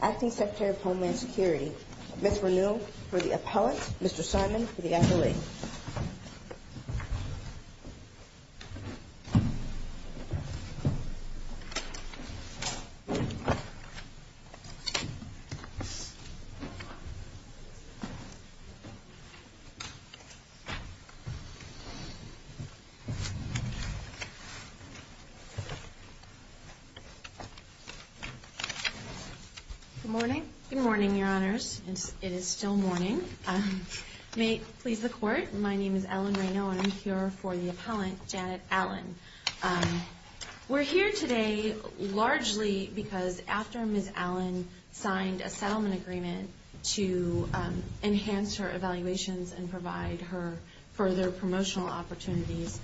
Acting Secretary of Homeland Security Ms. Renewal for the Appellant Good morning. Good morning, Your Honors. It is still morning. May it please the Court, my name is Ellen Renewal and I'm here for the Appellant, Janet Allen. We're here today largely because after Ms. Allen signed a settlement agreement to enhance her evaluations and provide her further promotional opportunities,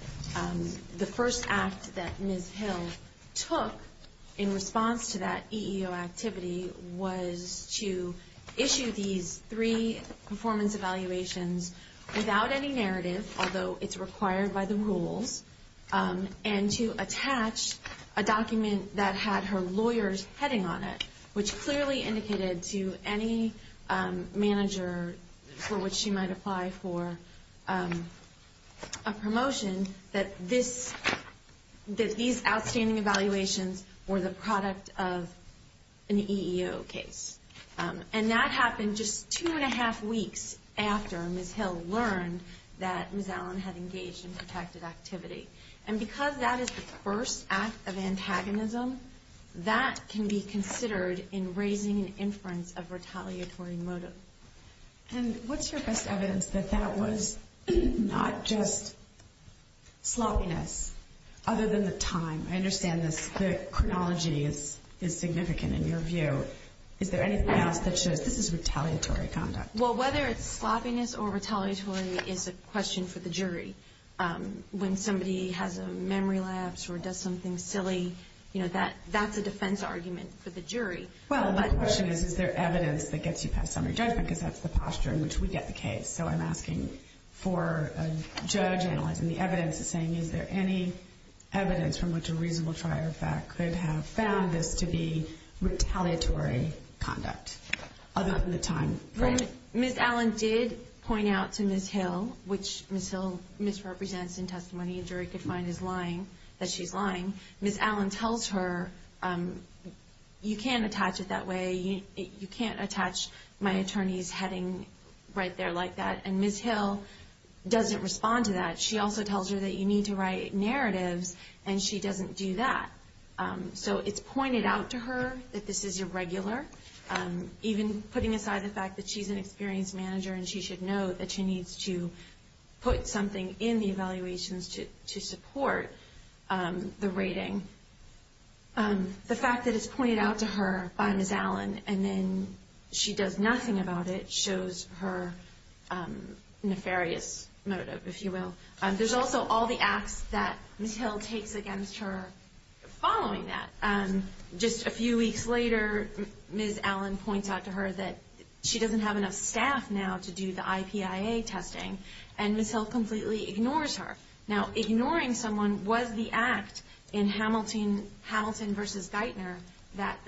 the first act that Ms. Hill took in response to that EEO activity was to issue these three performance evaluations without any narrative, although it's required by the rules, and to attach a document that had her lawyer's heading on it, which clearly indicated to any manager for which she might apply for a promotion that these outstanding evaluations were the product of an EEO case. And that happened just two and a half weeks after Ms. Hill learned that Ms. Allen had engaged in protected activity. And because that is the first act of antagonism, that can be considered in raising an inference of retaliatory motive. And what's your best evidence that that was not just sloppiness other than the time? I understand the chronology is significant in your view. Is there anything else that shows this is retaliatory conduct? Well, whether it's sloppiness or retaliatory is a question for the jury. When somebody has a memory lapse or does something silly, that's a defense argument for the jury. Well, my question is, is there evidence that gets you past summary judgment? Because that's the posture in which we get the case. So I'm asking for a judge analyzing the evidence and saying, is there any evidence from which a reasonable trier of fact could have found this to be retaliatory conduct other than the time frame? Well, Ms. Allen did point out to Ms. Hill, which Ms. Hill misrepresents in testimony and jury could find that she's lying. Ms. Allen tells her, you can't attach it that way. You can't attach my attorney's heading right there like that. And Ms. Hill doesn't respond to that. She also tells her that you need to write narratives, and she doesn't do that. So it's pointed out to her that this is irregular, even putting aside the fact that she's an experienced manager and she should know that she needs to put something in the evaluations to support the rating. The fact that it's pointed out to her by Ms. Allen and then she does nothing about it shows her nefarious motive, if you will. There's also all the acts that Ms. Hill takes against her following that. Just a few weeks later, Ms. Allen points out to her that she doesn't have enough staff now to do the IPIA testing, and Ms. Hill completely ignores her. Now, ignoring someone was the act in Hamilton v. Geithner that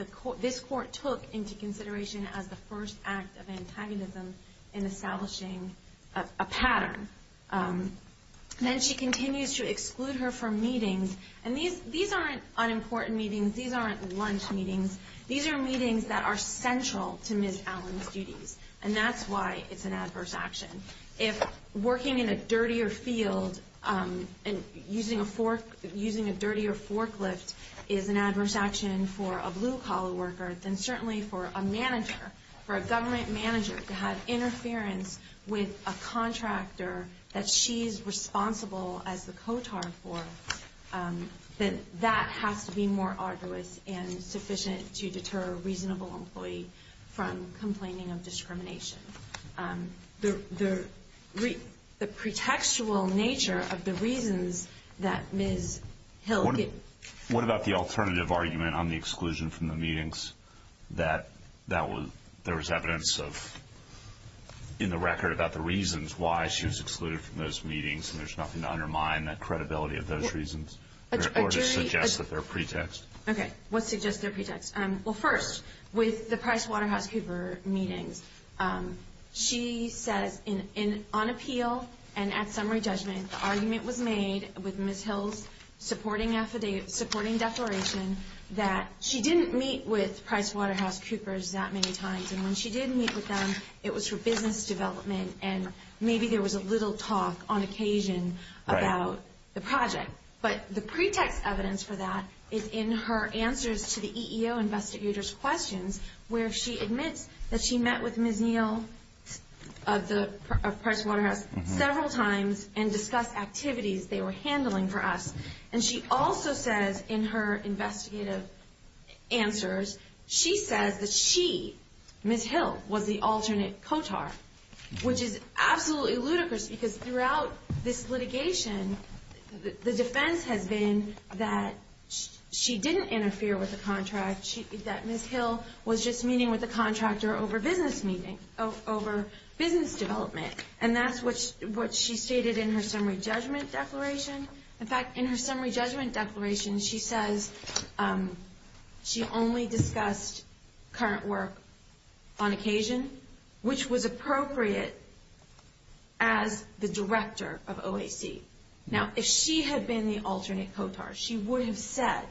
this court took into consideration as the first act of antagonism in establishing a pattern. And then she continues to exclude her from meetings. And these aren't unimportant meetings. These aren't lunch meetings. These are meetings that are central to Ms. Allen's duties, and that's why it's an adverse action. If working in a dirtier field and using a dirtier forklift is an adverse action for a blue-collar worker, then certainly for a manager, for a government manager to have interference with a contractor that she's responsible as the COTAR for, that has to be more arduous and sufficient to deter a reasonable employee from complaining of discrimination. The pretextual nature of the reasons that Ms. Hill... What about the alternative argument on the exclusion from the meetings that there was evidence in the record about the reasons why she was excluded from those meetings, and there's nothing to undermine that credibility of those reasons? Or to suggest that they're pretext? Okay. What suggests they're pretext? Well, first, with the PricewaterhouseCoopers meetings, she says on appeal and at summary judgment, the argument was made with Ms. Hill's supporting declaration that she didn't meet with PricewaterhouseCoopers that many times, and when she did meet with them, it was for business development, and maybe there was a little talk on occasion about the project. But the pretext evidence for that is in her answers to the EEO investigators' questions, where she admits that she met with Ms. Neal of PricewaterhouseCoopers several times and discussed activities they were handling for us. And she also says in her investigative answers, she says that she, Ms. Hill, was the alternate COTAR, which is absolutely ludicrous, because throughout this litigation, the defense has been that she didn't interfere with the contract, that Ms. Hill was just meeting with the contractor over business development. And that's what she stated in her summary judgment declaration. In fact, in her summary judgment declaration, she says she only discussed current work on occasion, which was appropriate as the director of OAC. Now, if she had been the alternate COTAR, she would have said,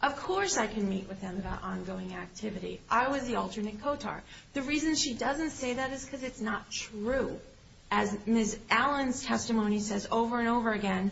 of course I can meet with them about ongoing activity. I was the alternate COTAR. The reason she doesn't say that is because it's not true. As Ms. Allen's testimony says over and over again,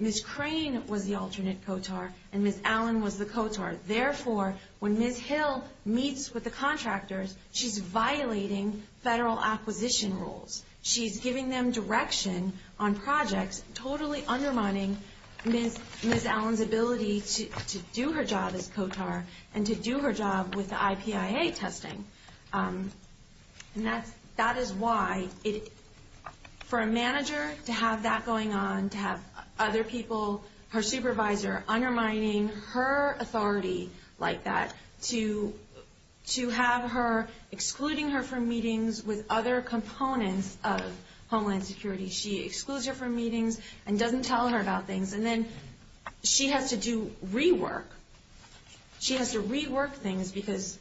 Ms. Crane was the alternate COTAR, and Ms. Allen was the COTAR. Therefore, when Ms. Hill meets with the contractors, she's violating federal acquisition rules. She's giving them direction on projects, totally undermining Ms. Allen's ability to do her job as COTAR and to do her job with the IPIA testing. And that is why, for a manager to have that going on, to have other people, her supervisor undermining her authority like that, to have her excluding her from meetings with other components of Homeland Security. She excludes her from meetings and doesn't tell her about things. And then she has to do rework. She has to rework things because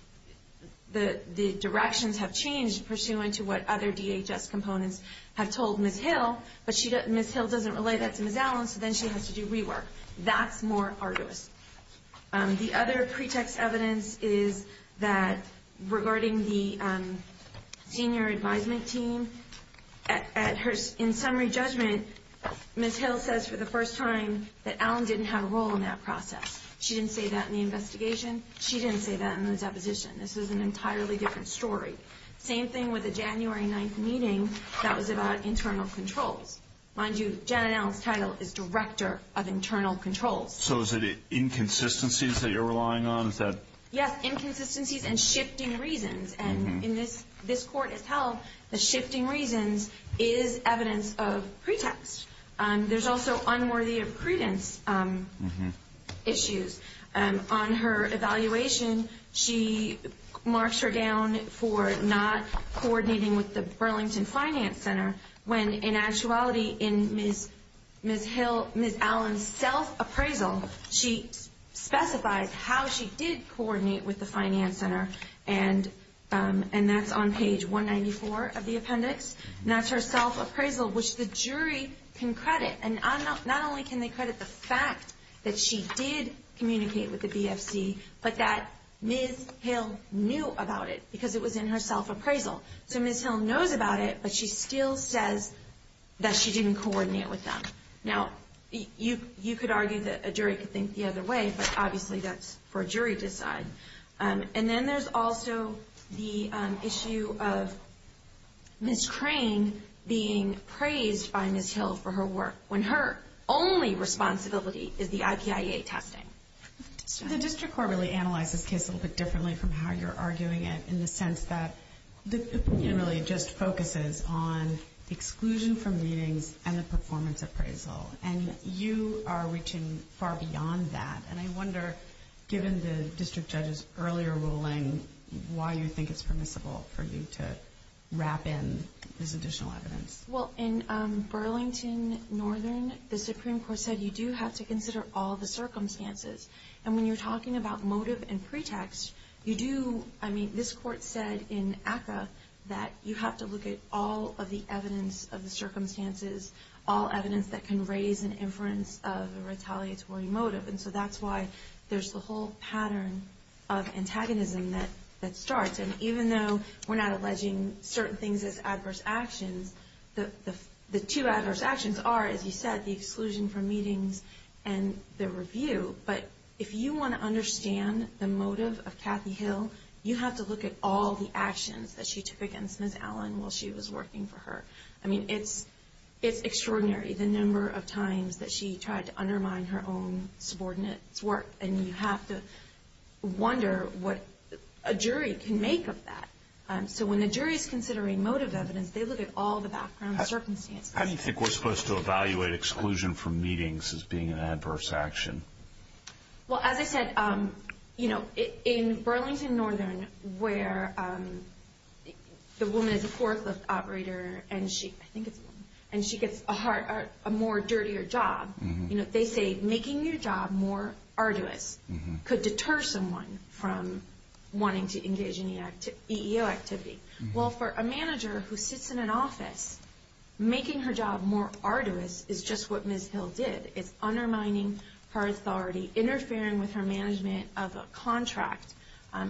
the directions have changed pursuant to what other DHS components have told Ms. Hill, but Ms. Hill doesn't relay that to Ms. Allen, so then she has to do rework. That's more arduous. The other pretext evidence is that regarding the senior advisement team, in summary judgment, Ms. Hill says for the first time that Allen didn't have a role in that process. She didn't say that in the investigation. She didn't say that in the deposition. This is an entirely different story. Same thing with the January 9th meeting that was about internal controls. Mind you, Janet Allen's title is Director of Internal Controls. So is it inconsistencies that you're relying on? Yes, inconsistencies and shifting reasons. And this court has held that shifting reasons is evidence of pretext. There's also unworthy of credence issues. On her evaluation, she marks her down for not coordinating with the Burlington Finance Center when, in actuality, in Ms. Allen's self-appraisal, she specifies how she did coordinate with the Finance Center, and that's on page 194 of the appendix. And that's her self-appraisal, which the jury can credit. And not only can they credit the fact that she did communicate with the BFC, but that Ms. Hill knew about it because it was in her self-appraisal. So Ms. Hill knows about it, but she still says that she didn't coordinate with them. Now, you could argue that a jury could think the other way, but obviously that's for a jury to decide. And then there's also the issue of Ms. Crane being praised by Ms. Hill for her work when her only responsibility is the IPIA testing. The district court really analyzed this case a little bit differently from how you're arguing it in the sense that the opinion really just focuses on exclusion from meetings and the performance appraisal. And you are reaching far beyond that. And I wonder, given the district judge's earlier ruling, why you think it's permissible for you to wrap in this additional evidence. Well, in Burlington Northern, the Supreme Court said you do have to consider all the circumstances. And when you're talking about motive and pretext, you do, I mean, this court said in ACCA that you have to look at all of the evidence of the circumstances, all evidence that can raise an inference of a retaliatory motive. And so that's why there's the whole pattern of antagonism that starts. And even though we're not alleging certain things as adverse actions, the two adverse actions are, as you said, the exclusion from meetings and the review. But if you want to understand the motive of Kathy Hill, you have to look at all the actions that she took against Ms. Allen while she was working for her. I mean, it's extraordinary the number of times that she tried to undermine her own subordinates' work. And you have to wonder what a jury can make of that. So when the jury is considering motive evidence, they look at all the background circumstances. How do you think we're supposed to evaluate exclusion from meetings as being an adverse action? Well, as I said, you know, in Burlington Northern, where the woman is a forklift operator and she gets a more dirtier job, they say making your job more arduous could deter someone from wanting to engage in EEO activity. Well, for a manager who sits in an office, making her job more arduous is just what Ms. Hill did. It's undermining her authority, interfering with her management of a contract.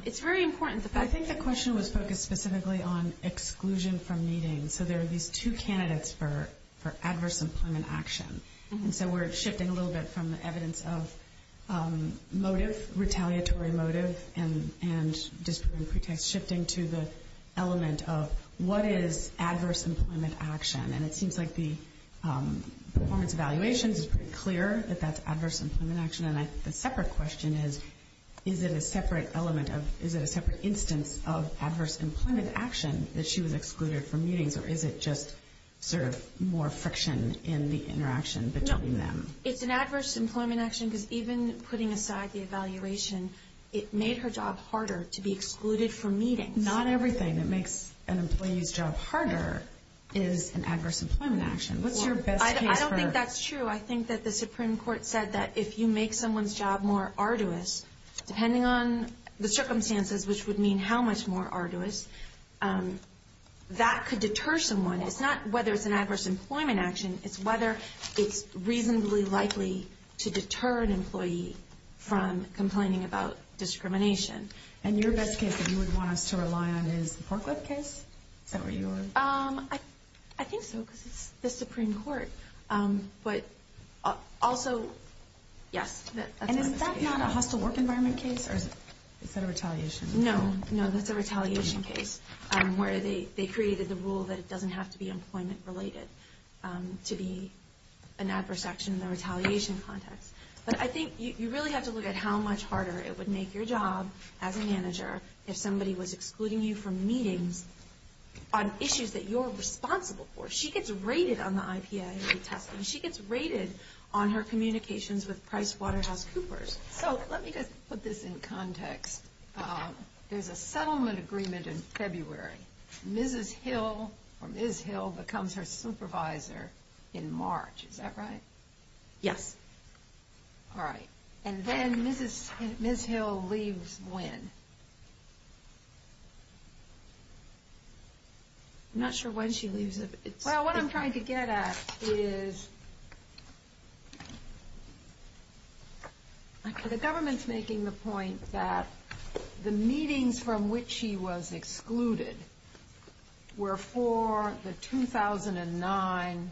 It's very important. I think the question was focused specifically on exclusion from meetings. So there are these two candidates for adverse employment action. And so we're shifting a little bit from the evidence of motive, retaliatory motive, and disproving pretext, shifting to the element of what is adverse employment action. And it seems like the performance evaluations is pretty clear that that's adverse employment action. And the separate question is, is it a separate element of, is it a separate instance of adverse employment action that she was excluded from meetings? Or is it just sort of more friction in the interaction between them? No. It's an adverse employment action because even putting aside the evaluation, it made her job harder to be excluded from meetings. I think not everything that makes an employee's job harder is an adverse employment action. What's your best case for... I don't think that's true. I think that the Supreme Court said that if you make someone's job more arduous, depending on the circumstances, which would mean how much more arduous, that could deter someone. It's not whether it's an adverse employment action. It's whether it's reasonably likely to deter an employee from complaining about discrimination. And your best case that you would want us to rely on is the Porklip case? Is that where you are? I think so, because it's the Supreme Court. But also, yes. And is that not a hostile work environment case? Or is that a retaliation? No. No, that's a retaliation case where they created the rule that it doesn't have to be employment-related to be an adverse action in the retaliation context. But I think you really have to look at how much harder it would make your job as a manager if somebody was excluding you from meetings on issues that you're responsible for. She gets rated on the IPIA testing. She gets rated on her communications with PricewaterhouseCoopers. So let me just put this in context. There's a settlement agreement in February. Mrs. Hill, or Ms. Hill, becomes her supervisor in March. Is that right? Yes. All right. And then Ms. Hill leaves when? I'm not sure when she leaves. Well, what I'm trying to get at is the government's making the point that the meetings from which she was excluded were for the 2009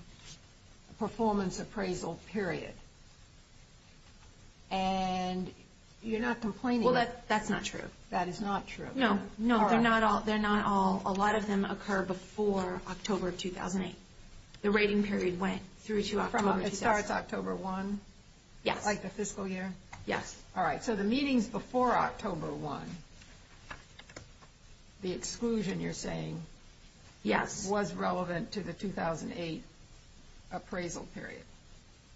performance appraisal period. And you're not complaining. Well, that's not true. That is not true. No, they're not all. A lot of them occur before October 2008. The rating period went through to October 2006. It starts October 1? Yes. Like the fiscal year? Yes. All right. So the meetings before October 1, the exclusion, you're saying, was relevant to the 2008 appraisal period?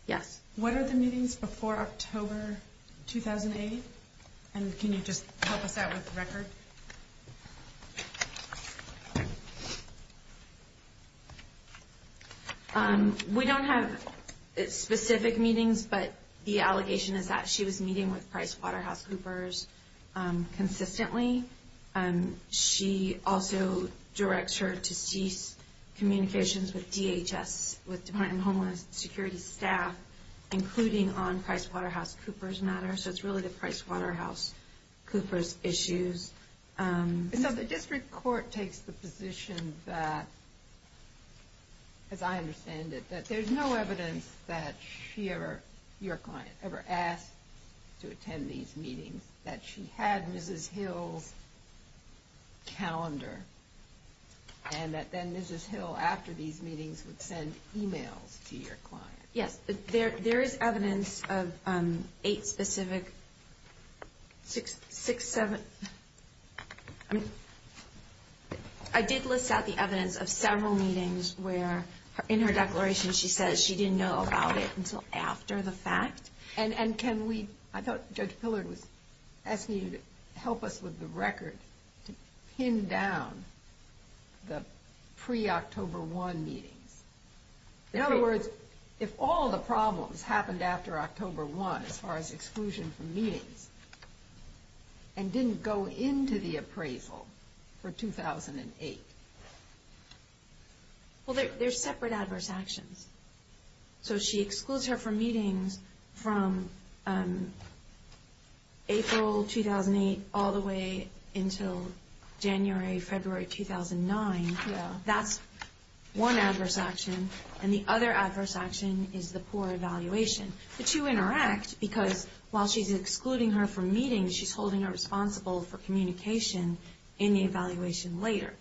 Yes. What are the meetings before October 2008? And can you just help us out with the record? We don't have specific meetings, but the allegation is that she was meeting with PricewaterhouseCoopers consistently. She also directs her to cease communications with DHS, with Department of Homeland Security staff, including on PricewaterhouseCoopers' matter. So it's really the PricewaterhouseCoopers' issues. So the district court takes the position that, as I understand it, that there's no evidence that she ever, your client, ever asked to attend these meetings, that she had Mrs. Hill's calendar, and that then Mrs. Hill, after these meetings, would send e-mails to your client. Yes. There is evidence of eight specific, six, seven, I mean, I did list out the evidence of several meetings where, in her declaration, she says she didn't know about it until after the fact. And can we, I thought Judge Pillard was asking you to help us with the record, to pin down the pre-October 1 meetings. In other words, if all the problems happened after October 1, as far as exclusion from meetings, and didn't go into the appraisal for 2008. Well, they're separate adverse actions. So she excludes her from meetings from April 2008 all the way until January, February 2009. That's one adverse action. And the other adverse action is the poor evaluation. The two interact because, while she's excluding her from meetings, she's holding her responsible for communication in the evaluation later.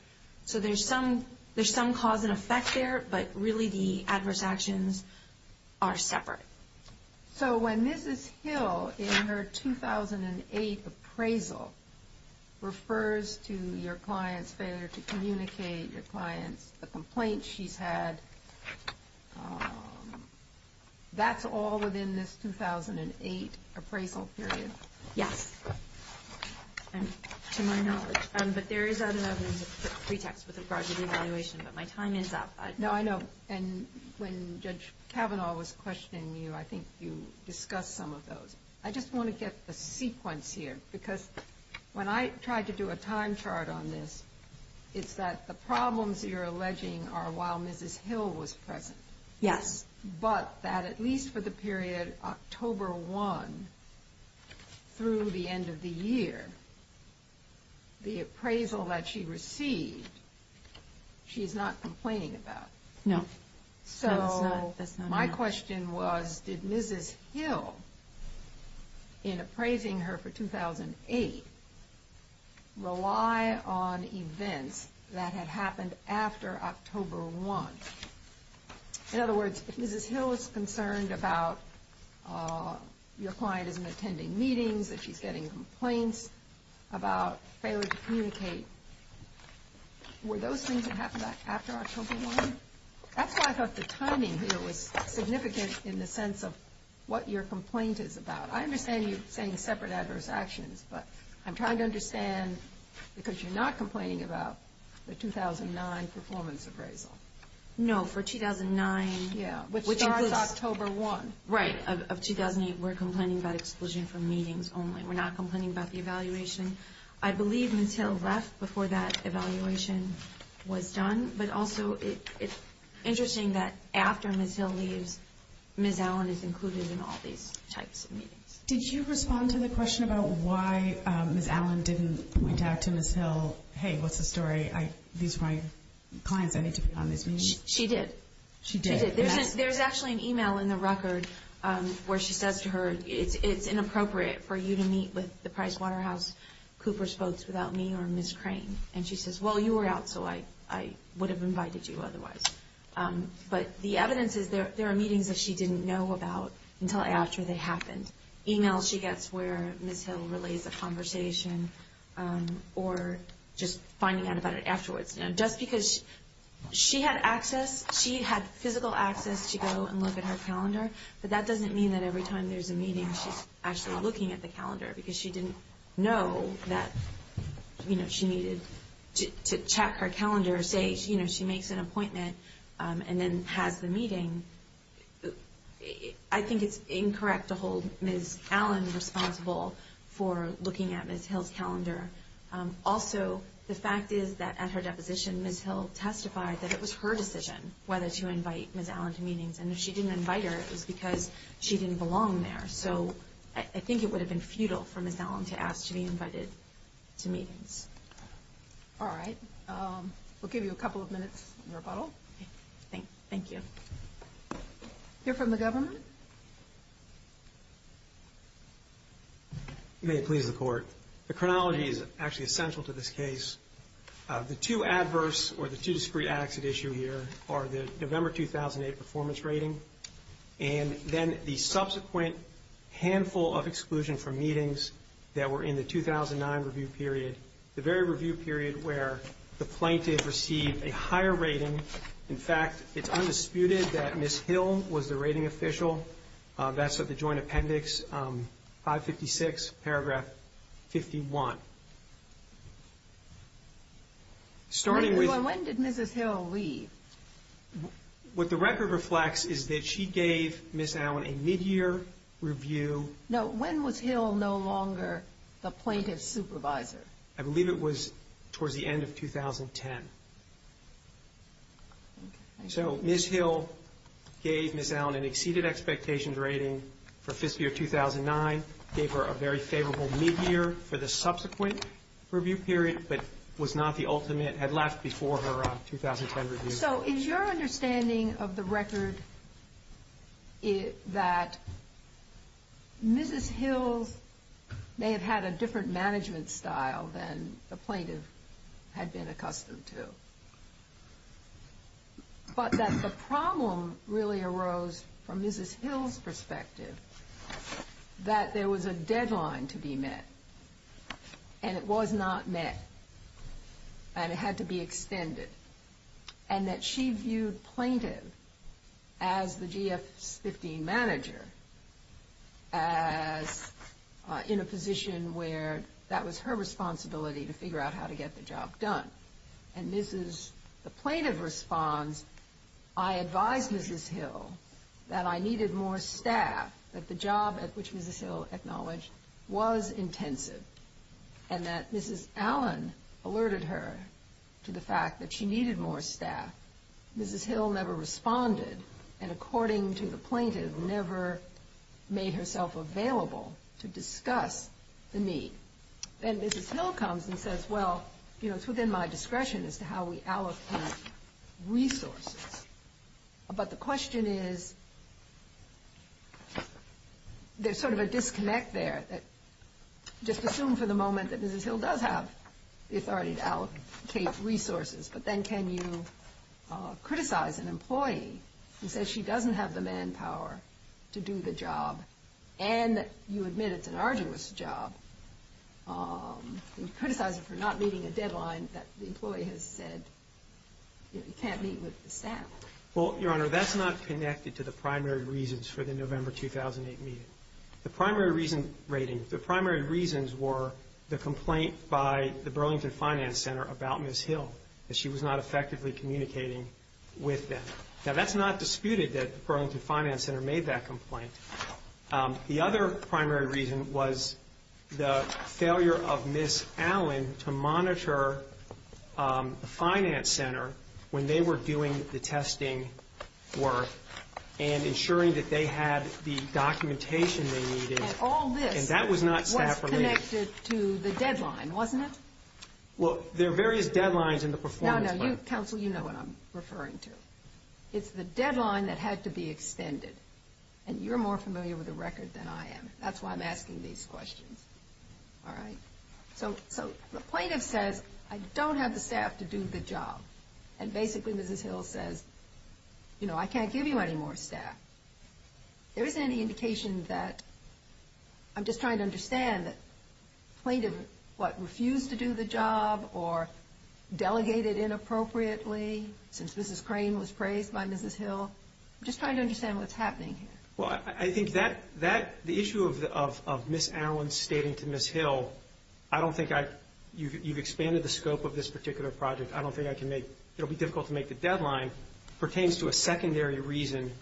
So there's some cause and effect there, but really the adverse actions are separate. So when Mrs. Hill, in her 2008 appraisal, refers to your client's failure to communicate, your client's complaint she's had, that's all within this 2008 appraisal period? Yes. To my knowledge. But there is another pretext with regard to the evaluation, but my time is up. No, I know. And when Judge Kavanaugh was questioning you, I think you discussed some of those. I just want to get the sequence here, because when I tried to do a time chart on this, it's that the problems you're alleging are while Mrs. Hill was present. Yes. But that at least for the period October 1 through the end of the year, the appraisal that she received, she's not complaining about. No. So my question was, did Mrs. Hill, in appraising her for 2008, rely on events that had happened after October 1? In other words, if Mrs. Hill is concerned about your client isn't attending meetings, that she's getting complaints about failure to communicate, were those things that happened after October 1? That's why I thought the timing here was significant in the sense of what your complaint is about. I understand you saying separate adverse actions, but I'm trying to understand, because you're not complaining about the 2009 performance appraisal. No, for 2009. Yeah, which starts October 1. Right, of 2008, we're complaining about exclusion from meetings only. We're not complaining about the evaluation. I believe Mrs. Hill left before that evaluation was done, but also it's interesting that after Mrs. Hill leaves, Mrs. Allen is included in all these types of meetings. Did you respond to the question about why Mrs. Allen didn't point out to Mrs. Hill, hey, what's the story, these are my clients, I need to be on these meetings? She did. She did. There's actually an email in the record where she says to her, it's inappropriate for you to meet with the PricewaterhouseCoopers folks without me or Ms. Crane. And she says, well, you were out, so I would have invited you otherwise. But the evidence is there are meetings that she didn't know about until after they happened. Emails she gets where Ms. Hill relays a conversation or just finding out about it afterwards. Just because she had access, she had physical access to go and look at her calendar, but that doesn't mean that every time there's a meeting she's actually looking at the calendar because she didn't know that she needed to check her calendar or say she makes an appointment and then has the meeting. I think it's incorrect to hold Ms. Allen responsible for looking at Ms. Hill's calendar. Also, the fact is that at her deposition, Ms. Hill testified that it was her decision whether to invite Ms. Allen to meetings. And if she didn't invite her, it was because she didn't belong there. So I think it would have been futile for Ms. Allen to ask to be invited to meetings. All right. We'll give you a couple of minutes in rebuttal. Thank you. Hear from the government? May it please the Court. The chronology is actually essential to this case. The two adverse or the two discrete acts at issue here are the November 2008 performance rating and then the subsequent handful of exclusion from meetings that were in the 2009 review period, the very review period where the plaintiff received a higher rating. In fact, it's undisputed that Ms. Hill was the rating official. That's at the Joint Appendix 556, paragraph 51. When did Mrs. Hill leave? What the record reflects is that she gave Ms. Allen a midyear review. No, when was Hill no longer the plaintiff's supervisor? I believe it was towards the end of 2010. So Ms. Hill gave Ms. Allen an exceeded expectations rating for fiscal year 2009, gave her a very favorable midyear for the subsequent review period, but was not the ultimate, had left before her 2010 review. So is your understanding of the record that Mrs. Hill may have had a different management style than the plaintiff had been accustomed to, but that the problem really arose from Mrs. Hill's perspective that there was a deadline to be met and it was not met and it had to be extended, and that she viewed plaintiff as the GF15 manager, as in a position where that was her responsibility to figure out how to get the job done. And this is the plaintiff response, I advised Mrs. Hill that I needed more staff, that the job at which Mrs. Hill acknowledged was intensive, and that Mrs. Allen alerted her to the fact that she needed more staff. Mrs. Hill never responded, and according to the plaintiff, never made herself available to discuss the need. Then Mrs. Hill comes and says, well, you know, it's within my discretion as to how we allocate resources. But the question is, there's sort of a disconnect there that, just assume for the moment that Mrs. Hill does have the authority to allocate resources, but then can you criticize an employee who says she doesn't have the manpower to do the job, and you admit it's an arduous job, and you criticize her for not meeting a deadline that the employee has said you can't meet with the staff. Well, Your Honor, that's not connected to the primary reasons for the November 2008 meeting. The primary reasons were the complaint by the Burlington Finance Center about Mrs. Hill, that she was not effectively communicating with them. Now, that's not disputed that the Burlington Finance Center made that complaint. The other primary reason was the failure of Ms. Allen to monitor the Finance Center when they were doing the testing work and ensuring that they had the documentation they needed. And all this was connected to the deadline, wasn't it? Well, there are various deadlines in the performance plan. No, no. Counsel, you know what I'm referring to. It's the deadline that had to be extended, and you're more familiar with the record than I am. That's why I'm asking these questions. All right? So the plaintiff says, I don't have the staff to do the job, and basically Mrs. Hill says, you know, I can't give you any more staff. There isn't any indication that—I'm just trying to understand that plaintiff, what, refused to do the job or delegated inappropriately since Mrs. Crane was praised by Mrs. Hill? I'm just trying to understand what's happening here. Well, I think that—the issue of Ms. Allen stating to Ms. Hill, I don't think I—you've expanded the scope of this particular project. I don't think I can make—it'll be difficult to make the deadline, pertains to a secondary reason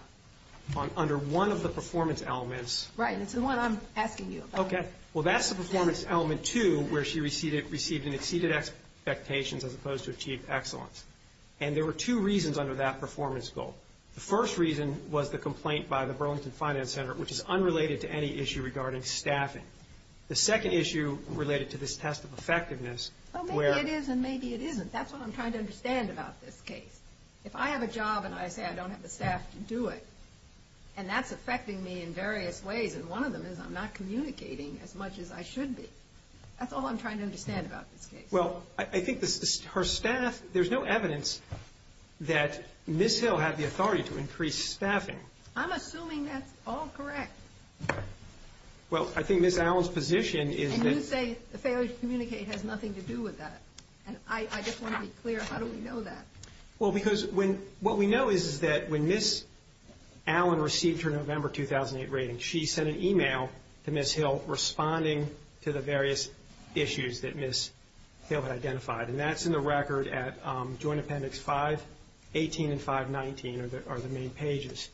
under one of the performance elements. Right, and it's the one I'm asking you about. Okay. Well, that's the performance element two, where she received an exceeded expectations as opposed to achieved excellence. And there were two reasons under that performance goal. The first reason was the complaint by the Burlington Finance Center, which is unrelated to any issue regarding staffing. The second issue related to this test of effectiveness where— Well, maybe it is and maybe it isn't. That's what I'm trying to understand about this case. If I have a job and I say I don't have the staff to do it, and that's affecting me in various ways, and one of them is I'm not communicating as much as I should be. That's all I'm trying to understand about this case. Well, I think her staff—there's no evidence that Ms. Hill had the authority to increase staffing. I'm assuming that's all correct. Well, I think Ms. Allen's position is that— And you say the failure to communicate has nothing to do with that. And I just want to be clear, how do we know that? Well, because when—what we know is that when Ms. Allen received her November 2008 rating, she sent an email to Ms. Hill responding to the various issues that Ms. Hill had identified. And that's in the record at Joint Appendix 518 and 519 are the main pages.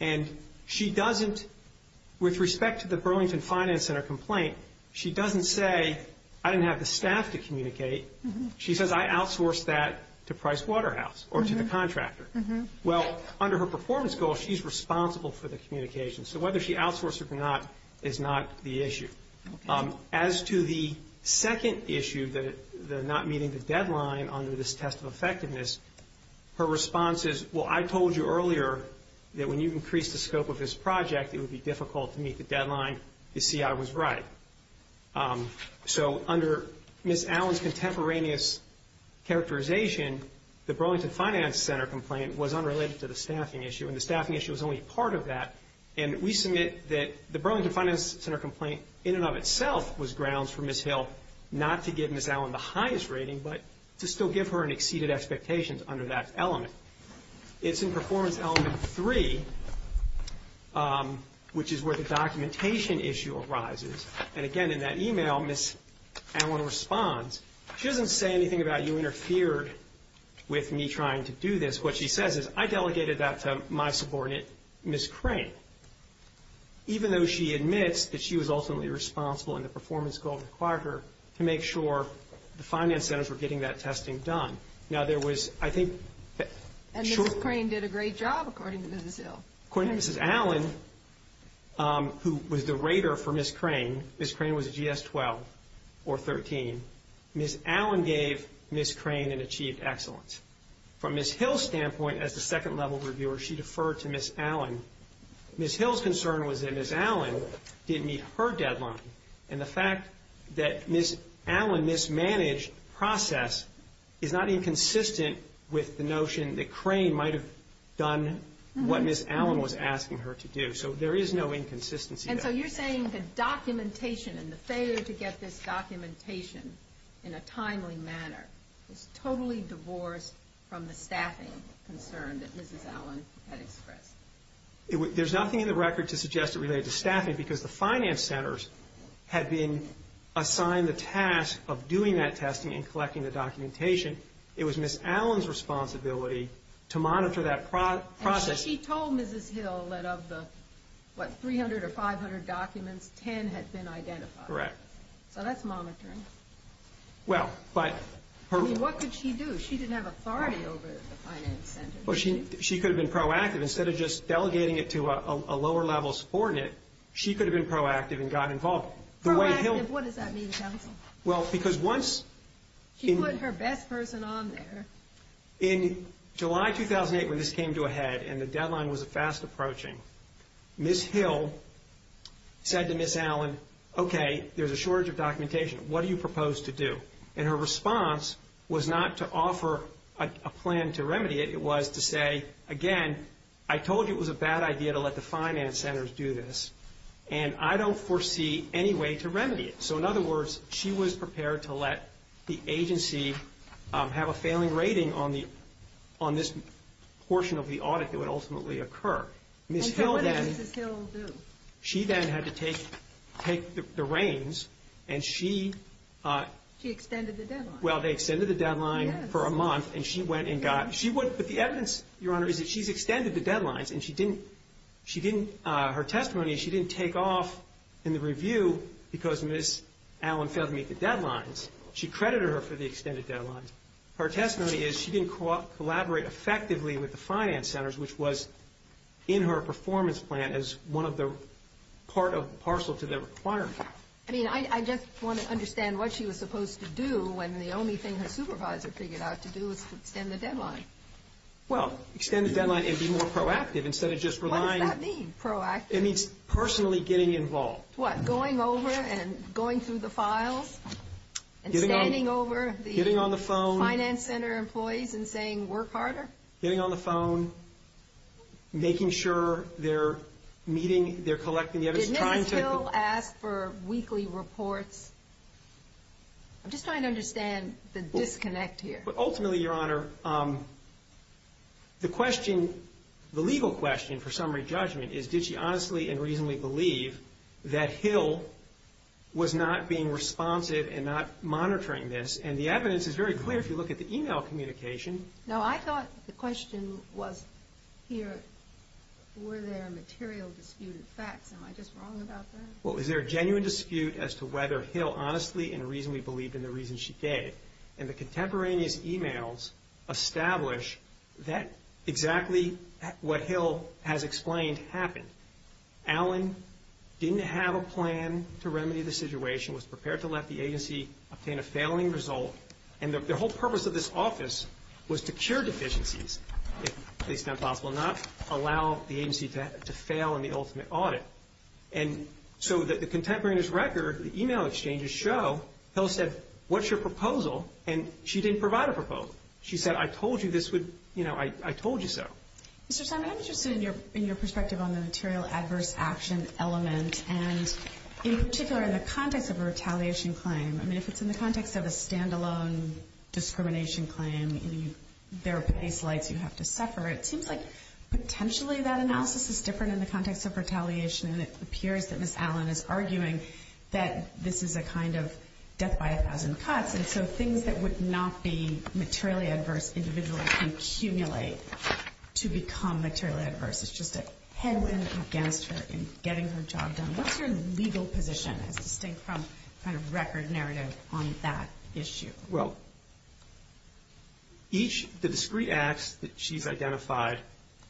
And she doesn't—with respect to the Burlington Finance Center complaint, she doesn't say, I didn't have the staff to communicate. She says, I outsourced that to Price Waterhouse or to the contractor. Well, under her performance goal, she's responsible for the communication. So whether she outsourced it or not is not the issue. As to the second issue, the not meeting the deadline under this test of effectiveness, her response is, well, I told you earlier that when you increase the scope of this project, it would be difficult to meet the deadline. You see, I was right. So under Ms. Allen's contemporaneous characterization, the Burlington Finance Center complaint was unrelated to the staffing issue, and the staffing issue was only part of that. And we submit that the Burlington Finance Center complaint in and of itself was grounds for Ms. Hill not to give Ms. Allen the highest rating but to still give her an exceeded expectations under that element. It's in Performance Element 3, which is where the documentation issue arises. And again, in that email, Ms. Allen responds. She doesn't say anything about you interfered with me trying to do this. What she says is, I delegated that to my subordinate, Ms. Crane, even though she admits that she was ultimately responsible in the performance goal required her to make sure the finance centers were getting that testing done. Now, there was, I think, short- And Ms. Crane did a great job, according to Ms. Hill. According to Ms. Allen, who was the rater for Ms. Crane, Ms. Crane was a GS-12 or 13, Ms. Allen gave Ms. Crane an achieved excellence. From Ms. Hill's standpoint, as the second-level reviewer, she deferred to Ms. Allen. Ms. Hill's concern was that Ms. Allen didn't meet her deadline. And the fact that Ms. Allen mismanaged the process is not inconsistent with the notion that Crane might have done what Ms. Allen was asking her to do. So there is no inconsistency there. And so you're saying the documentation and the failure to get this documentation in a timely manner is totally divorced from the staffing concern that Ms. Allen had expressed? There's nothing in the record to suggest it related to staffing because the finance centers had been assigned the task of doing that testing and collecting the documentation. It was Ms. Allen's responsibility to monitor that process. And so she told Ms. Hill that of the, what, 300 or 500 documents, 10 had been identified. Correct. So that's monitoring. Well, but her... I mean, what could she do? She didn't have authority over the finance centers. Well, she could have been proactive. Instead of just delegating it to a lower-level support unit, she could have been proactive and gotten involved. Proactive? What does that mean, counsel? Well, because once... She put her best person on there. In July 2008, when this came to a head and the deadline was fast approaching, Ms. Hill said to Ms. Allen, okay, there's a shortage of documentation. What do you propose to do? And her response was not to offer a plan to remedy it. It was to say, again, I told you it was a bad idea to let the finance centers do this, and I don't foresee any way to remedy it. So in other words, she was prepared to let the agency have a failing rating on this portion of the audit that would ultimately occur. And so what did Ms. Hill do? She then had to take the reins, and she... She extended the deadline. Well, they extended the deadline for a month, and she went and got... But the evidence, Your Honor, is that she's extended the deadlines, and she didn't... Her testimony is she didn't take off in the review because Ms. Allen failed to meet the deadlines. She credited her for the extended deadlines. Her testimony is she didn't collaborate effectively with the finance centers, which was in her performance plan as part of the parcel to the requirement. I mean, I just want to understand what she was supposed to do when the only thing her supervisor figured out to do was to extend the deadline. Well, extend the deadline and be more proactive instead of just relying... What does that mean, proactive? It means personally getting involved. What, going over and going through the files and standing over the... Getting on the phone. ...finance center employees and saying, work harder? Getting on the phone, making sure they're meeting, they're collecting the evidence, trying to... Did Mrs. Hill ask for weekly reports? I'm just trying to understand the disconnect here. Ultimately, Your Honor, the question, the legal question for summary judgment is did she honestly and reasonably believe that Hill was not being responsive and not monitoring this? And the evidence is very clear if you look at the e-mail communication. No, I thought the question was here were there material disputed facts. Am I just wrong about that? Well, is there a genuine dispute as to whether Hill honestly and reasonably believed in the reasons she gave? And the contemporaneous e-mails establish that exactly what Hill has explained happened. Allen didn't have a plan to remedy the situation, was prepared to let the agency obtain a failing result. And the whole purpose of this office was to cure deficiencies if it's not possible, not allow the agency to fail in the ultimate audit. And so the contemporaneous record, the e-mail exchanges show Hill said, what's your proposal? And she didn't provide a proposal. She said, I told you this would, you know, I told you so. Mr. Simon, I'm interested in your perspective on the material adverse action element, and in particular in the context of a retaliation claim. I mean, if it's in the context of a standalone discrimination claim, there are pace lights you have to suffer. It seems like potentially that analysis is different in the context of retaliation, and it appears that Ms. Allen is arguing that this is a kind of death by a thousand cuts. And so things that would not be materially adverse individually accumulate to become materially adverse. It's just a headwind against her in getting her job done. What's your legal position as distinct from kind of record narrative on that issue? Well, each of the discrete acts that she's identified,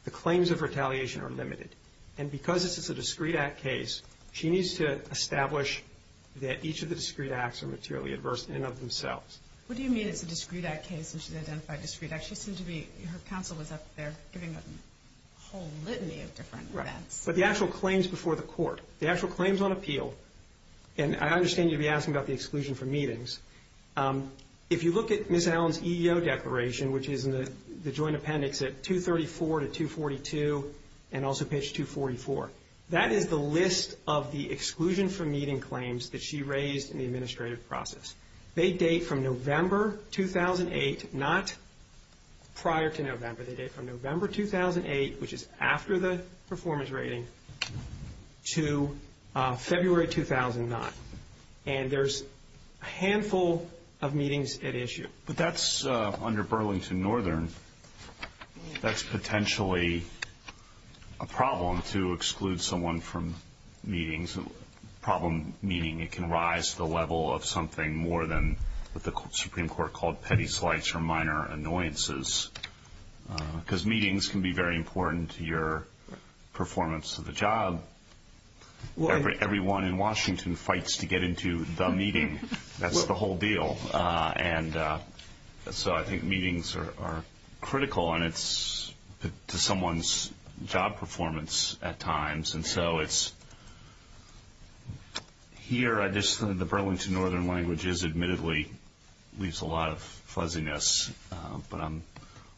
the claims of retaliation are limited. And because this is a discrete act case, she needs to establish that each of the discrete acts are materially adverse in and of themselves. What do you mean it's a discrete act case and she's identified discrete acts? She seemed to be, her counsel was up there giving a whole litany of different events. But the actual claims before the court, the actual claims on appeal, and I understand you'd be asking about the exclusion from meetings. If you look at Ms. Allen's EEO declaration, which is in the joint appendix at 234 to 242, and also page 244, that is the list of the exclusion from meeting claims that she raised in the administrative process. They date from November 2008, not prior to November. They date from November 2008, which is after the performance rating, to February 2009. And there's a handful of meetings at issue. But that's under Burlington Northern. That's potentially a problem to exclude someone from meetings, a problem meaning it can rise to the level of something more than what the Supreme Court called petty slights or minor annoyances because meetings can be very important to your performance of the job. Everyone in Washington fights to get into the meeting. That's the whole deal. And so I think meetings are critical to someone's job performance at times. And so here the Burlington Northern language is admittedly leaves a lot of fuzziness, but I'm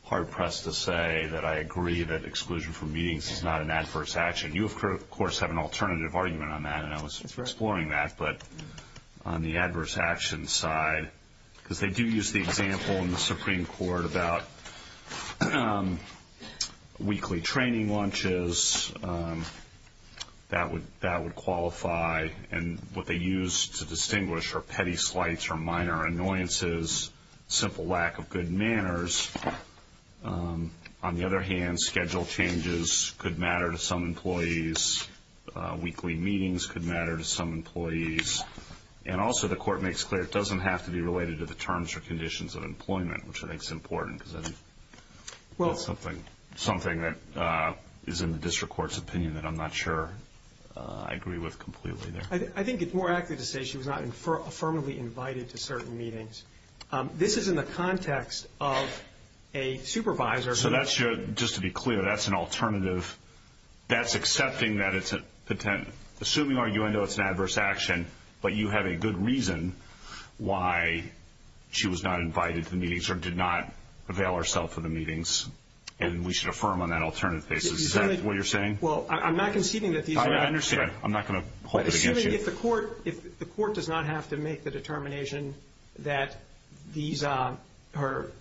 hard-pressed to say that I agree that exclusion from meetings is not an adverse action. You, of course, have an alternative argument on that, and I was exploring that. But on the adverse action side, because they do use the example in the Supreme Court about weekly training launches, that would qualify. And what they use to distinguish are petty slights or minor annoyances, simple lack of good manners. On the other hand, schedule changes could matter to some employees. Weekly meetings could matter to some employees. And also the Court makes clear it doesn't have to be related to the terms or conditions of employment, which I think is important because that's something that is in the district court's opinion that I'm not sure I agree with completely there. I think it's more accurate to say she was not affirmatively invited to certain meetings. This is in the context of a supervisor. So that's your, just to be clear, that's an alternative. That's accepting that it's a potential, assuming, arguing, oh, it's an adverse action, but you have a good reason why she was not invited to the meetings or did not avail herself of the meetings, and we should affirm on that alternative basis. Is that what you're saying? Well, I'm not conceding that these are. I understand. I'm not going to hold it against you. Assuming if the Court does not have to make the determination that these are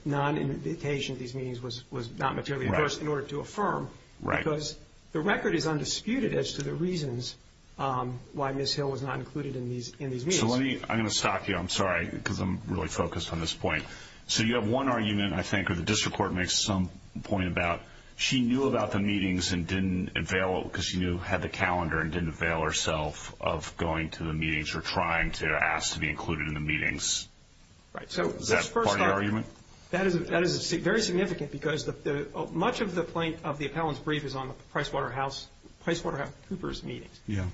non-invitation, these meetings was not materially adverse in order to affirm, because the record is undisputed as to the reasons why Ms. Hill was not included in these meetings. I'm going to stop you. I'm sorry because I'm really focused on this point. So you have one argument, I think, or the district court makes some point about she knew about the meetings and didn't avail because she had the calendar and didn't avail herself of going to the meetings or trying to ask to be included in the meetings. Is that part of the argument? That is very significant because much of the plaintiff of the appellant's brief is on the PricewaterhouseCoopers meetings. Yeah.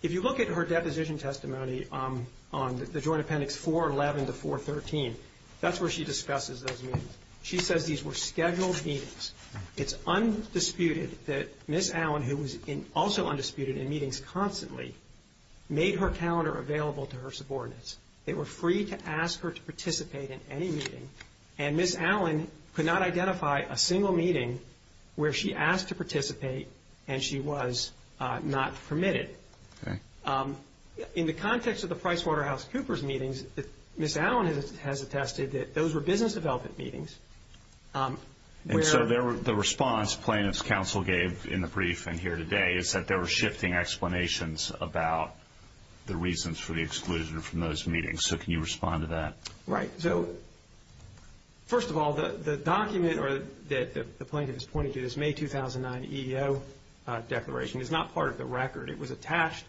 If you look at her deposition testimony on the Joint Appendix 411 to 413, that's where she discusses those meetings. She says these were scheduled meetings. It's undisputed that Ms. Allen, who was also undisputed in meetings constantly, made her calendar available to her subordinates. They were free to ask her to participate in any meeting, and Ms. Allen could not identify a single meeting where she asked to participate and she was not permitted. In the context of the PricewaterhouseCoopers meetings, Ms. Allen has attested that those were business development meetings. So the response plaintiffs' counsel gave in the briefing here today is that there were shifting explanations about the reasons for the exclusion from those meetings. So can you respond to that? Right. So, first of all, the document that the plaintiff is pointing to, this May 2009 EEO declaration, is not part of the record. It was attached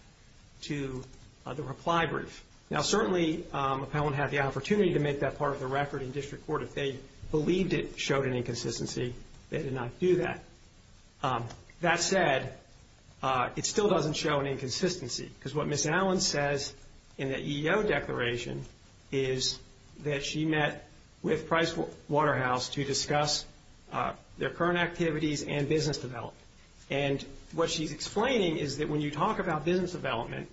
to the reply brief. Now, certainly, appellant had the opportunity to make that part of the record in district court. If they believed it showed an inconsistency, they did not do that. That said, it still doesn't show an inconsistency, because what Ms. Allen says in that EEO declaration is that she met with Pricewaterhouse to discuss their current activities and business development. And what she's explaining is that when you talk about business development,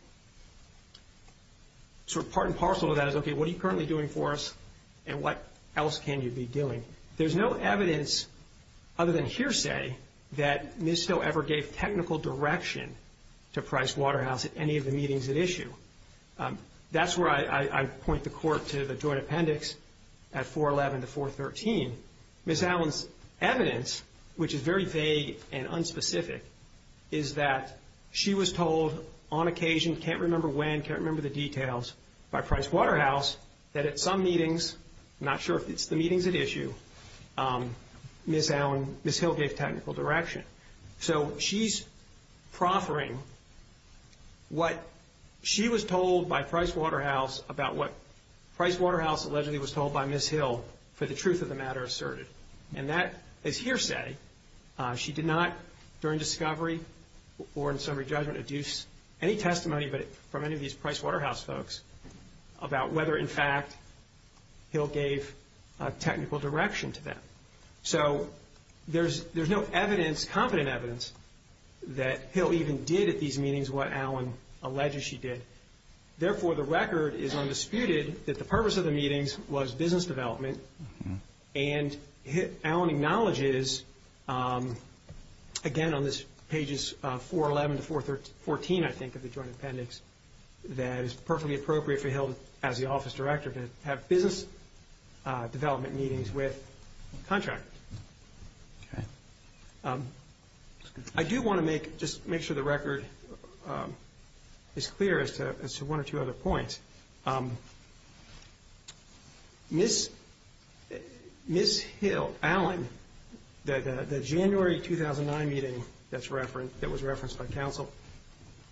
sort of part and parcel of that is, okay, what are you currently doing for us and what else can you be doing? There's no evidence, other than hearsay, that Ms. Still ever gave technical direction to Pricewaterhouse at any of the meetings at issue. That's where I point the court to the joint appendix at 411 to 413. Ms. Allen's evidence, which is very vague and unspecific, is that she was told on occasion, can't remember when, can't remember the details, by Pricewaterhouse that at some meetings, not sure if it's the meetings at issue, Ms. Hill gave technical direction. So she's proffering what she was told by Pricewaterhouse about what Pricewaterhouse allegedly was told by Ms. Hill for the truth of the matter asserted. And that is hearsay. She did not, during discovery or in summary judgment, deduce any testimony from any of these Pricewaterhouse folks about whether, in fact, Hill gave technical direction to them. So there's no evidence, confident evidence, that Hill even did at these meetings what Allen alleges she did. Therefore, the record is undisputed that the purpose of the meetings was business development. And Allen acknowledges, again, on pages 411 to 414, I think, of the joint appendix, that it is perfectly appropriate for Hill, as the office director, to have business development meetings with contractors. I do want to make sure the record is clear as to one or two other points. Ms. Hill, Allen, the January 2009 meeting that was referenced by counsel,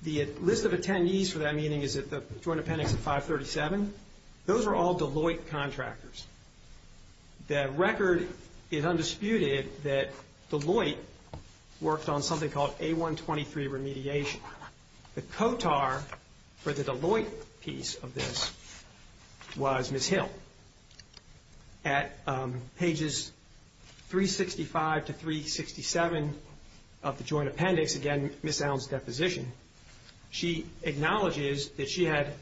the list of attendees for that meeting is at the joint appendix at 537. Those are all Deloitte contractors. The record is undisputed that Deloitte worked on something called A123 remediation. The COTAR for the Deloitte piece of this was Ms. Hill. At pages 365 to 367 of the joint appendix, again, Ms. Allen's deposition, she acknowledges that she had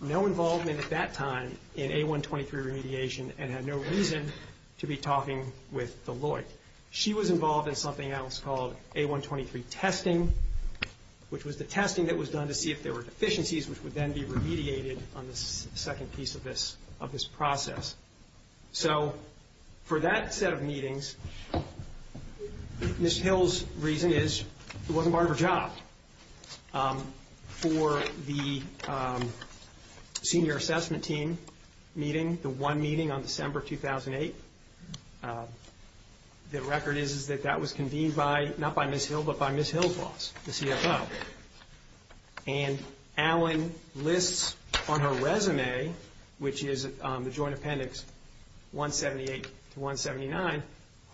no involvement at that time in A123 remediation and had no reason to be talking with Deloitte. She was involved in something else called A123 testing, which was the testing that was done to see if there were deficiencies, which would then be remediated on the second piece of this process. So for that set of meetings, Ms. Hill's reason is it wasn't part of her job. For the senior assessment team meeting, the one meeting on December 2008, the record is that that was convened not by Ms. Hill but by Ms. Hill's boss, the CFO. And Allen lists on her resume, which is the joint appendix 178 to 179,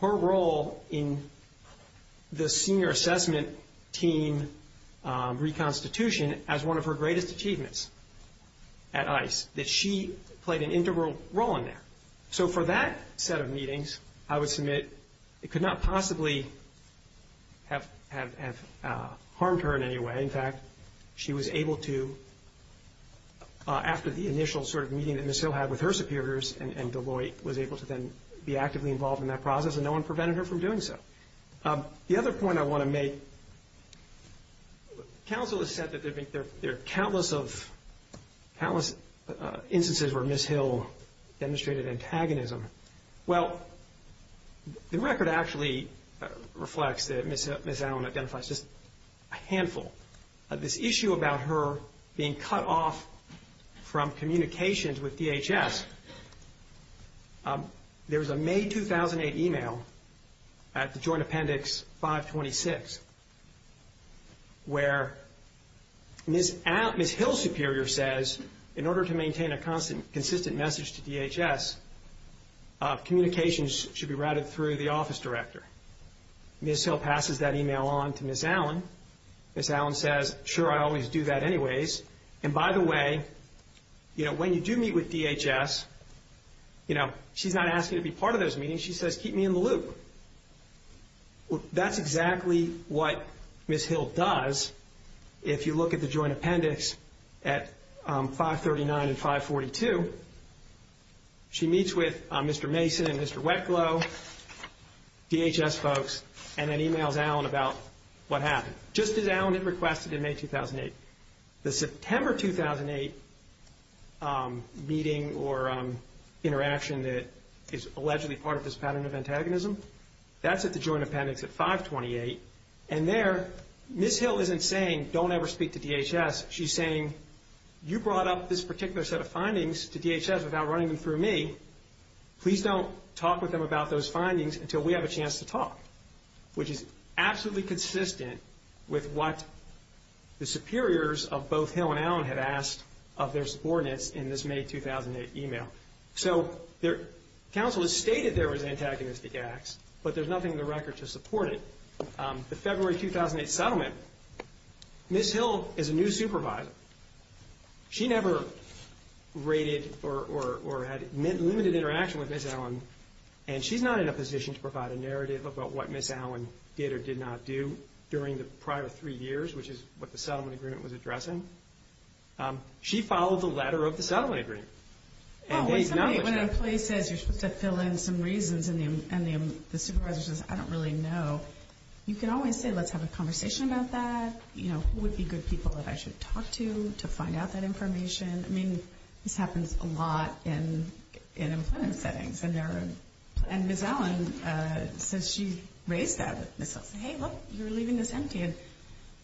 her role in the senior assessment team reconstitution as one of her greatest achievements at ICE, that she played an integral role in that. So for that set of meetings, I would submit it could not possibly have harmed her in any way. In fact, she was able to, after the initial sort of meeting that Ms. Hill had with her superiors and Deloitte was able to then be actively involved in that process, and no one prevented her from doing so. The other point I want to make, counsel has said that there are countless instances where Ms. Hill demonstrated antagonism. Well, the record actually reflects that Ms. Allen identifies just a handful. This issue about her being cut off from communications with DHS, there was a May 2008 email at the joint appendix 526, where Ms. Hill's superior says in order to maintain a consistent message to DHS, communications should be routed through the office director. Ms. Hill passes that email on to Ms. Allen. Ms. Allen says, sure, I always do that anyways. And by the way, when you do meet with DHS, she's not asking to be part of those meetings. She says, keep me in the loop. That's exactly what Ms. Hill does. If you look at the joint appendix at 539 and 542, she meets with Mr. Mason and Mr. Wetglow, DHS folks, and then emails Allen about what happened, just as Allen had requested in May 2008. The September 2008 meeting or interaction that is allegedly part of this pattern of antagonism, that's at the joint appendix at 528. And there, Ms. Hill isn't saying, don't ever speak to DHS. She's saying, you brought up this particular set of findings to DHS without running them through me. Please don't talk with them about those findings until we have a chance to talk, which is absolutely consistent with what the superiors of both Hill and Allen had asked of their subordinates in this May 2008 email. So counsel has stated there was antagonistic acts, but there's nothing in the record to support it. The February 2008 settlement, Ms. Hill is a new supervisor. She never rated or had limited interaction with Ms. Allen, and she's not in a position to provide a narrative about what Ms. Allen did or did not do during the prior three years, which is what the settlement agreement was addressing. She followed the letter of the settlement agreement. When an employee says you're supposed to fill in some reasons and the supervisor says, I don't really know, you can always say, let's have a conversation about that. Who would be good people that I should talk to to find out that information? I mean, this happens a lot in employment settings, and Ms. Allen says she raised that. Ms. Hill said, hey, look, you're leaving this empty, and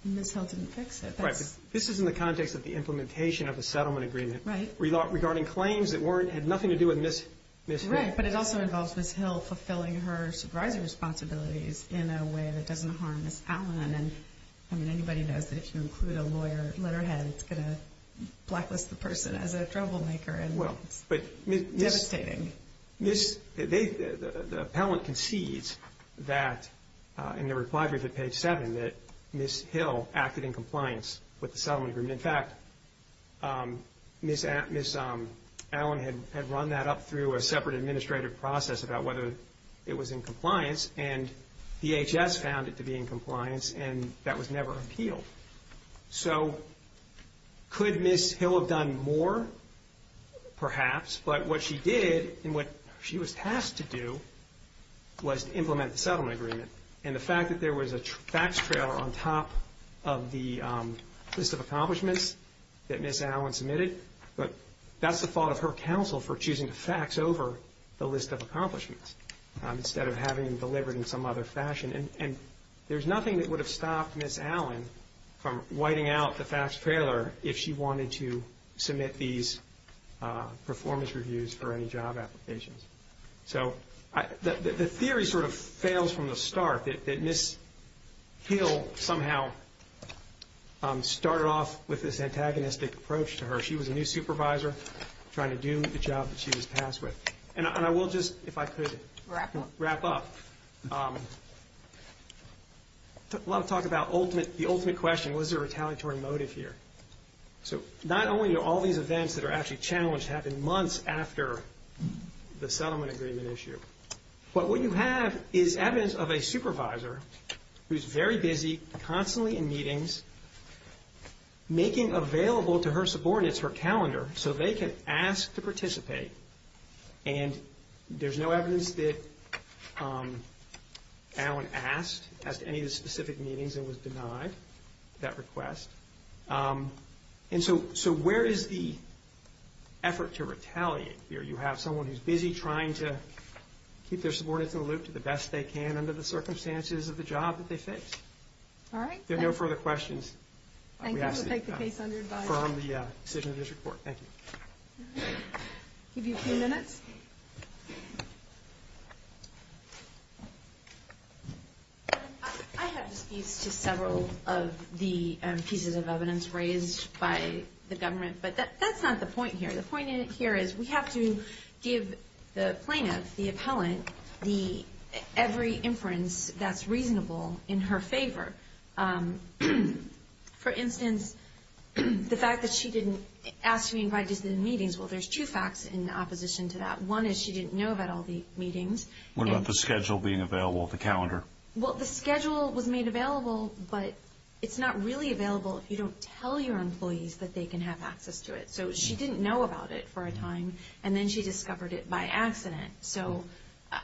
Ms. Hill didn't fix it. Right, but this is in the context of the implementation of the settlement agreement. Right. Regarding claims that had nothing to do with Ms. Hill. Right, but it also involves Ms. Hill fulfilling her supervisor responsibilities in a way that doesn't harm Ms. Allen. I mean, anybody knows that if you include a lawyer letterhead, it's going to blacklist the person as a troublemaker, and it's devastating. The appellant concedes that, in the reply brief at page 7, that Ms. Hill acted in compliance with the settlement agreement. In fact, Ms. Allen had run that up through a separate administrative process about whether it was in compliance, and DHS found it to be in compliance, and that was never appealed. So could Ms. Hill have done more? Perhaps, but what she did and what she was tasked to do was to implement the settlement agreement. And the fact that there was a fax trailer on top of the list of accomplishments that Ms. Allen submitted, that's the fault of her counsel for choosing to fax over the list of accomplishments instead of having them delivered in some other fashion. And there's nothing that would have stopped Ms. Allen from whiting out the fax trailer if she wanted to submit these performance reviews for any job applications. So the theory sort of fails from the start that Ms. Hill somehow started off with this antagonistic approach to her. She was a new supervisor trying to do the job that she was tasked with. And I will just, if I could, wrap up. A lot of talk about the ultimate question, was there a retaliatory motive here? So not only do all these events that are actually challenged happen months after the settlement agreement issue, but what you have is evidence of a supervisor who's very busy, constantly in meetings, making available to her subordinates her calendar so they can ask to participate. And there's no evidence that Allen asked, asked any of the specific meetings and was denied that request. And so where is the effort to retaliate here? You have someone who's busy trying to keep their subordinates in the loop to the best they can under the circumstances of the job that they fixed. All right. If there are no further questions, we ask that you confirm the decision of this report. Thank you. Give you a few minutes. I have disputes to several of the pieces of evidence raised by the government, but that's not the point here. The point here is we have to give the plaintiff, the appellant, every inference that's reasonable in her favor. For instance, the fact that she didn't ask to be invited to the meetings. Well, there's two facts in opposition to that. One is she didn't know about all the meetings. What about the schedule being available, the calendar? Well, the schedule was made available, but it's not really available if you don't tell your employees that they can have access to it. So she didn't know about it for a time, and then she discovered it by accident. So,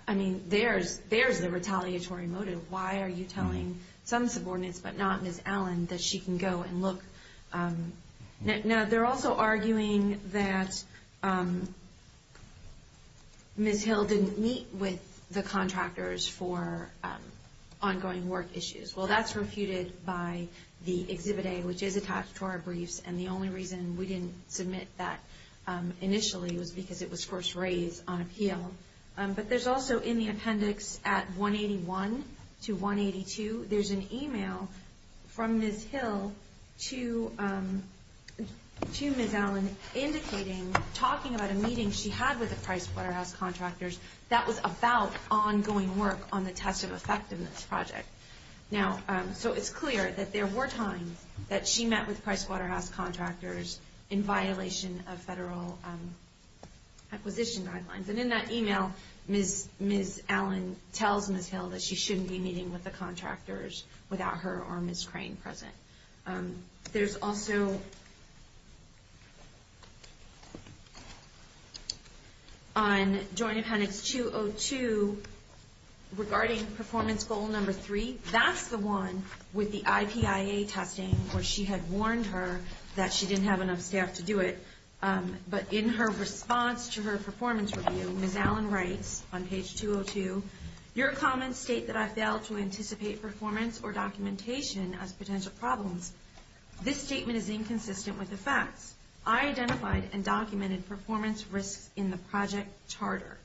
I mean, there's the retaliatory motive. Why are you telling some subordinates but not Ms. Allen that she can go and look? Now, they're also arguing that Ms. Hill didn't meet with the contractors for ongoing work issues. Well, that's refuted by the Exhibit A, which is attached to our briefs, and the only reason we didn't submit that initially was because it was first raised on appeal. But there's also in the appendix at 181 to 182, there's an email from Ms. Hill to Ms. Allen indicating, talking about a meeting she had with the Price Waterhouse contractors that was about ongoing work on the test of effectiveness project. So it's clear that there were times that she met with Price Waterhouse contractors in violation of federal acquisition guidelines. And in that email, Ms. Allen tells Ms. Hill that she shouldn't be meeting with the contractors without her or Ms. Crane present. There's also on Joint Appendix 202, regarding performance goal number three, that's the one with the IPIA testing where she had warned her that she didn't have enough staff to do it. But in her response to her performance review, Ms. Allen writes on page 202, your comments state that I failed to anticipate performance or documentation as potential problems. This statement is inconsistent with the facts. I identified and documented performance risks in the project charter.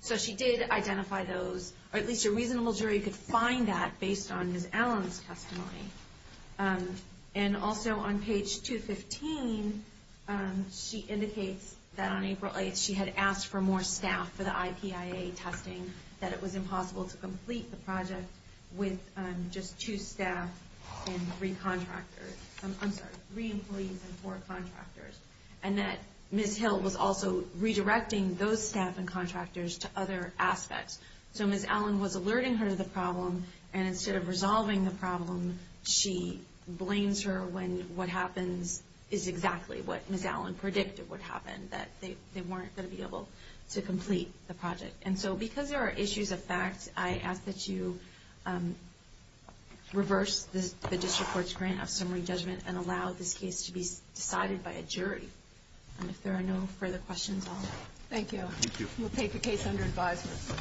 So she did identify those, or at least a reasonable jury could find that based on Ms. Allen's testimony. And also on page 215, she indicates that on April 8th, she had asked for more staff for the IPIA testing, that it was impossible to complete the project with just two staff and three contractors. I'm sorry, three employees and four contractors. And that Ms. Hill was also redirecting those staff and contractors to other aspects. So Ms. Allen was alerting her to the problem, and instead of resolving the problem, she blames her when what happens is exactly what Ms. Allen predicted would happen, that they weren't going to be able to complete the project. And so because there are issues of fact, I ask that you reverse the district court's grant of summary judgment and allow this case to be decided by a jury. And if there are no further questions, I'll let you go. Thank you. Thank you. We'll take the case under advisement.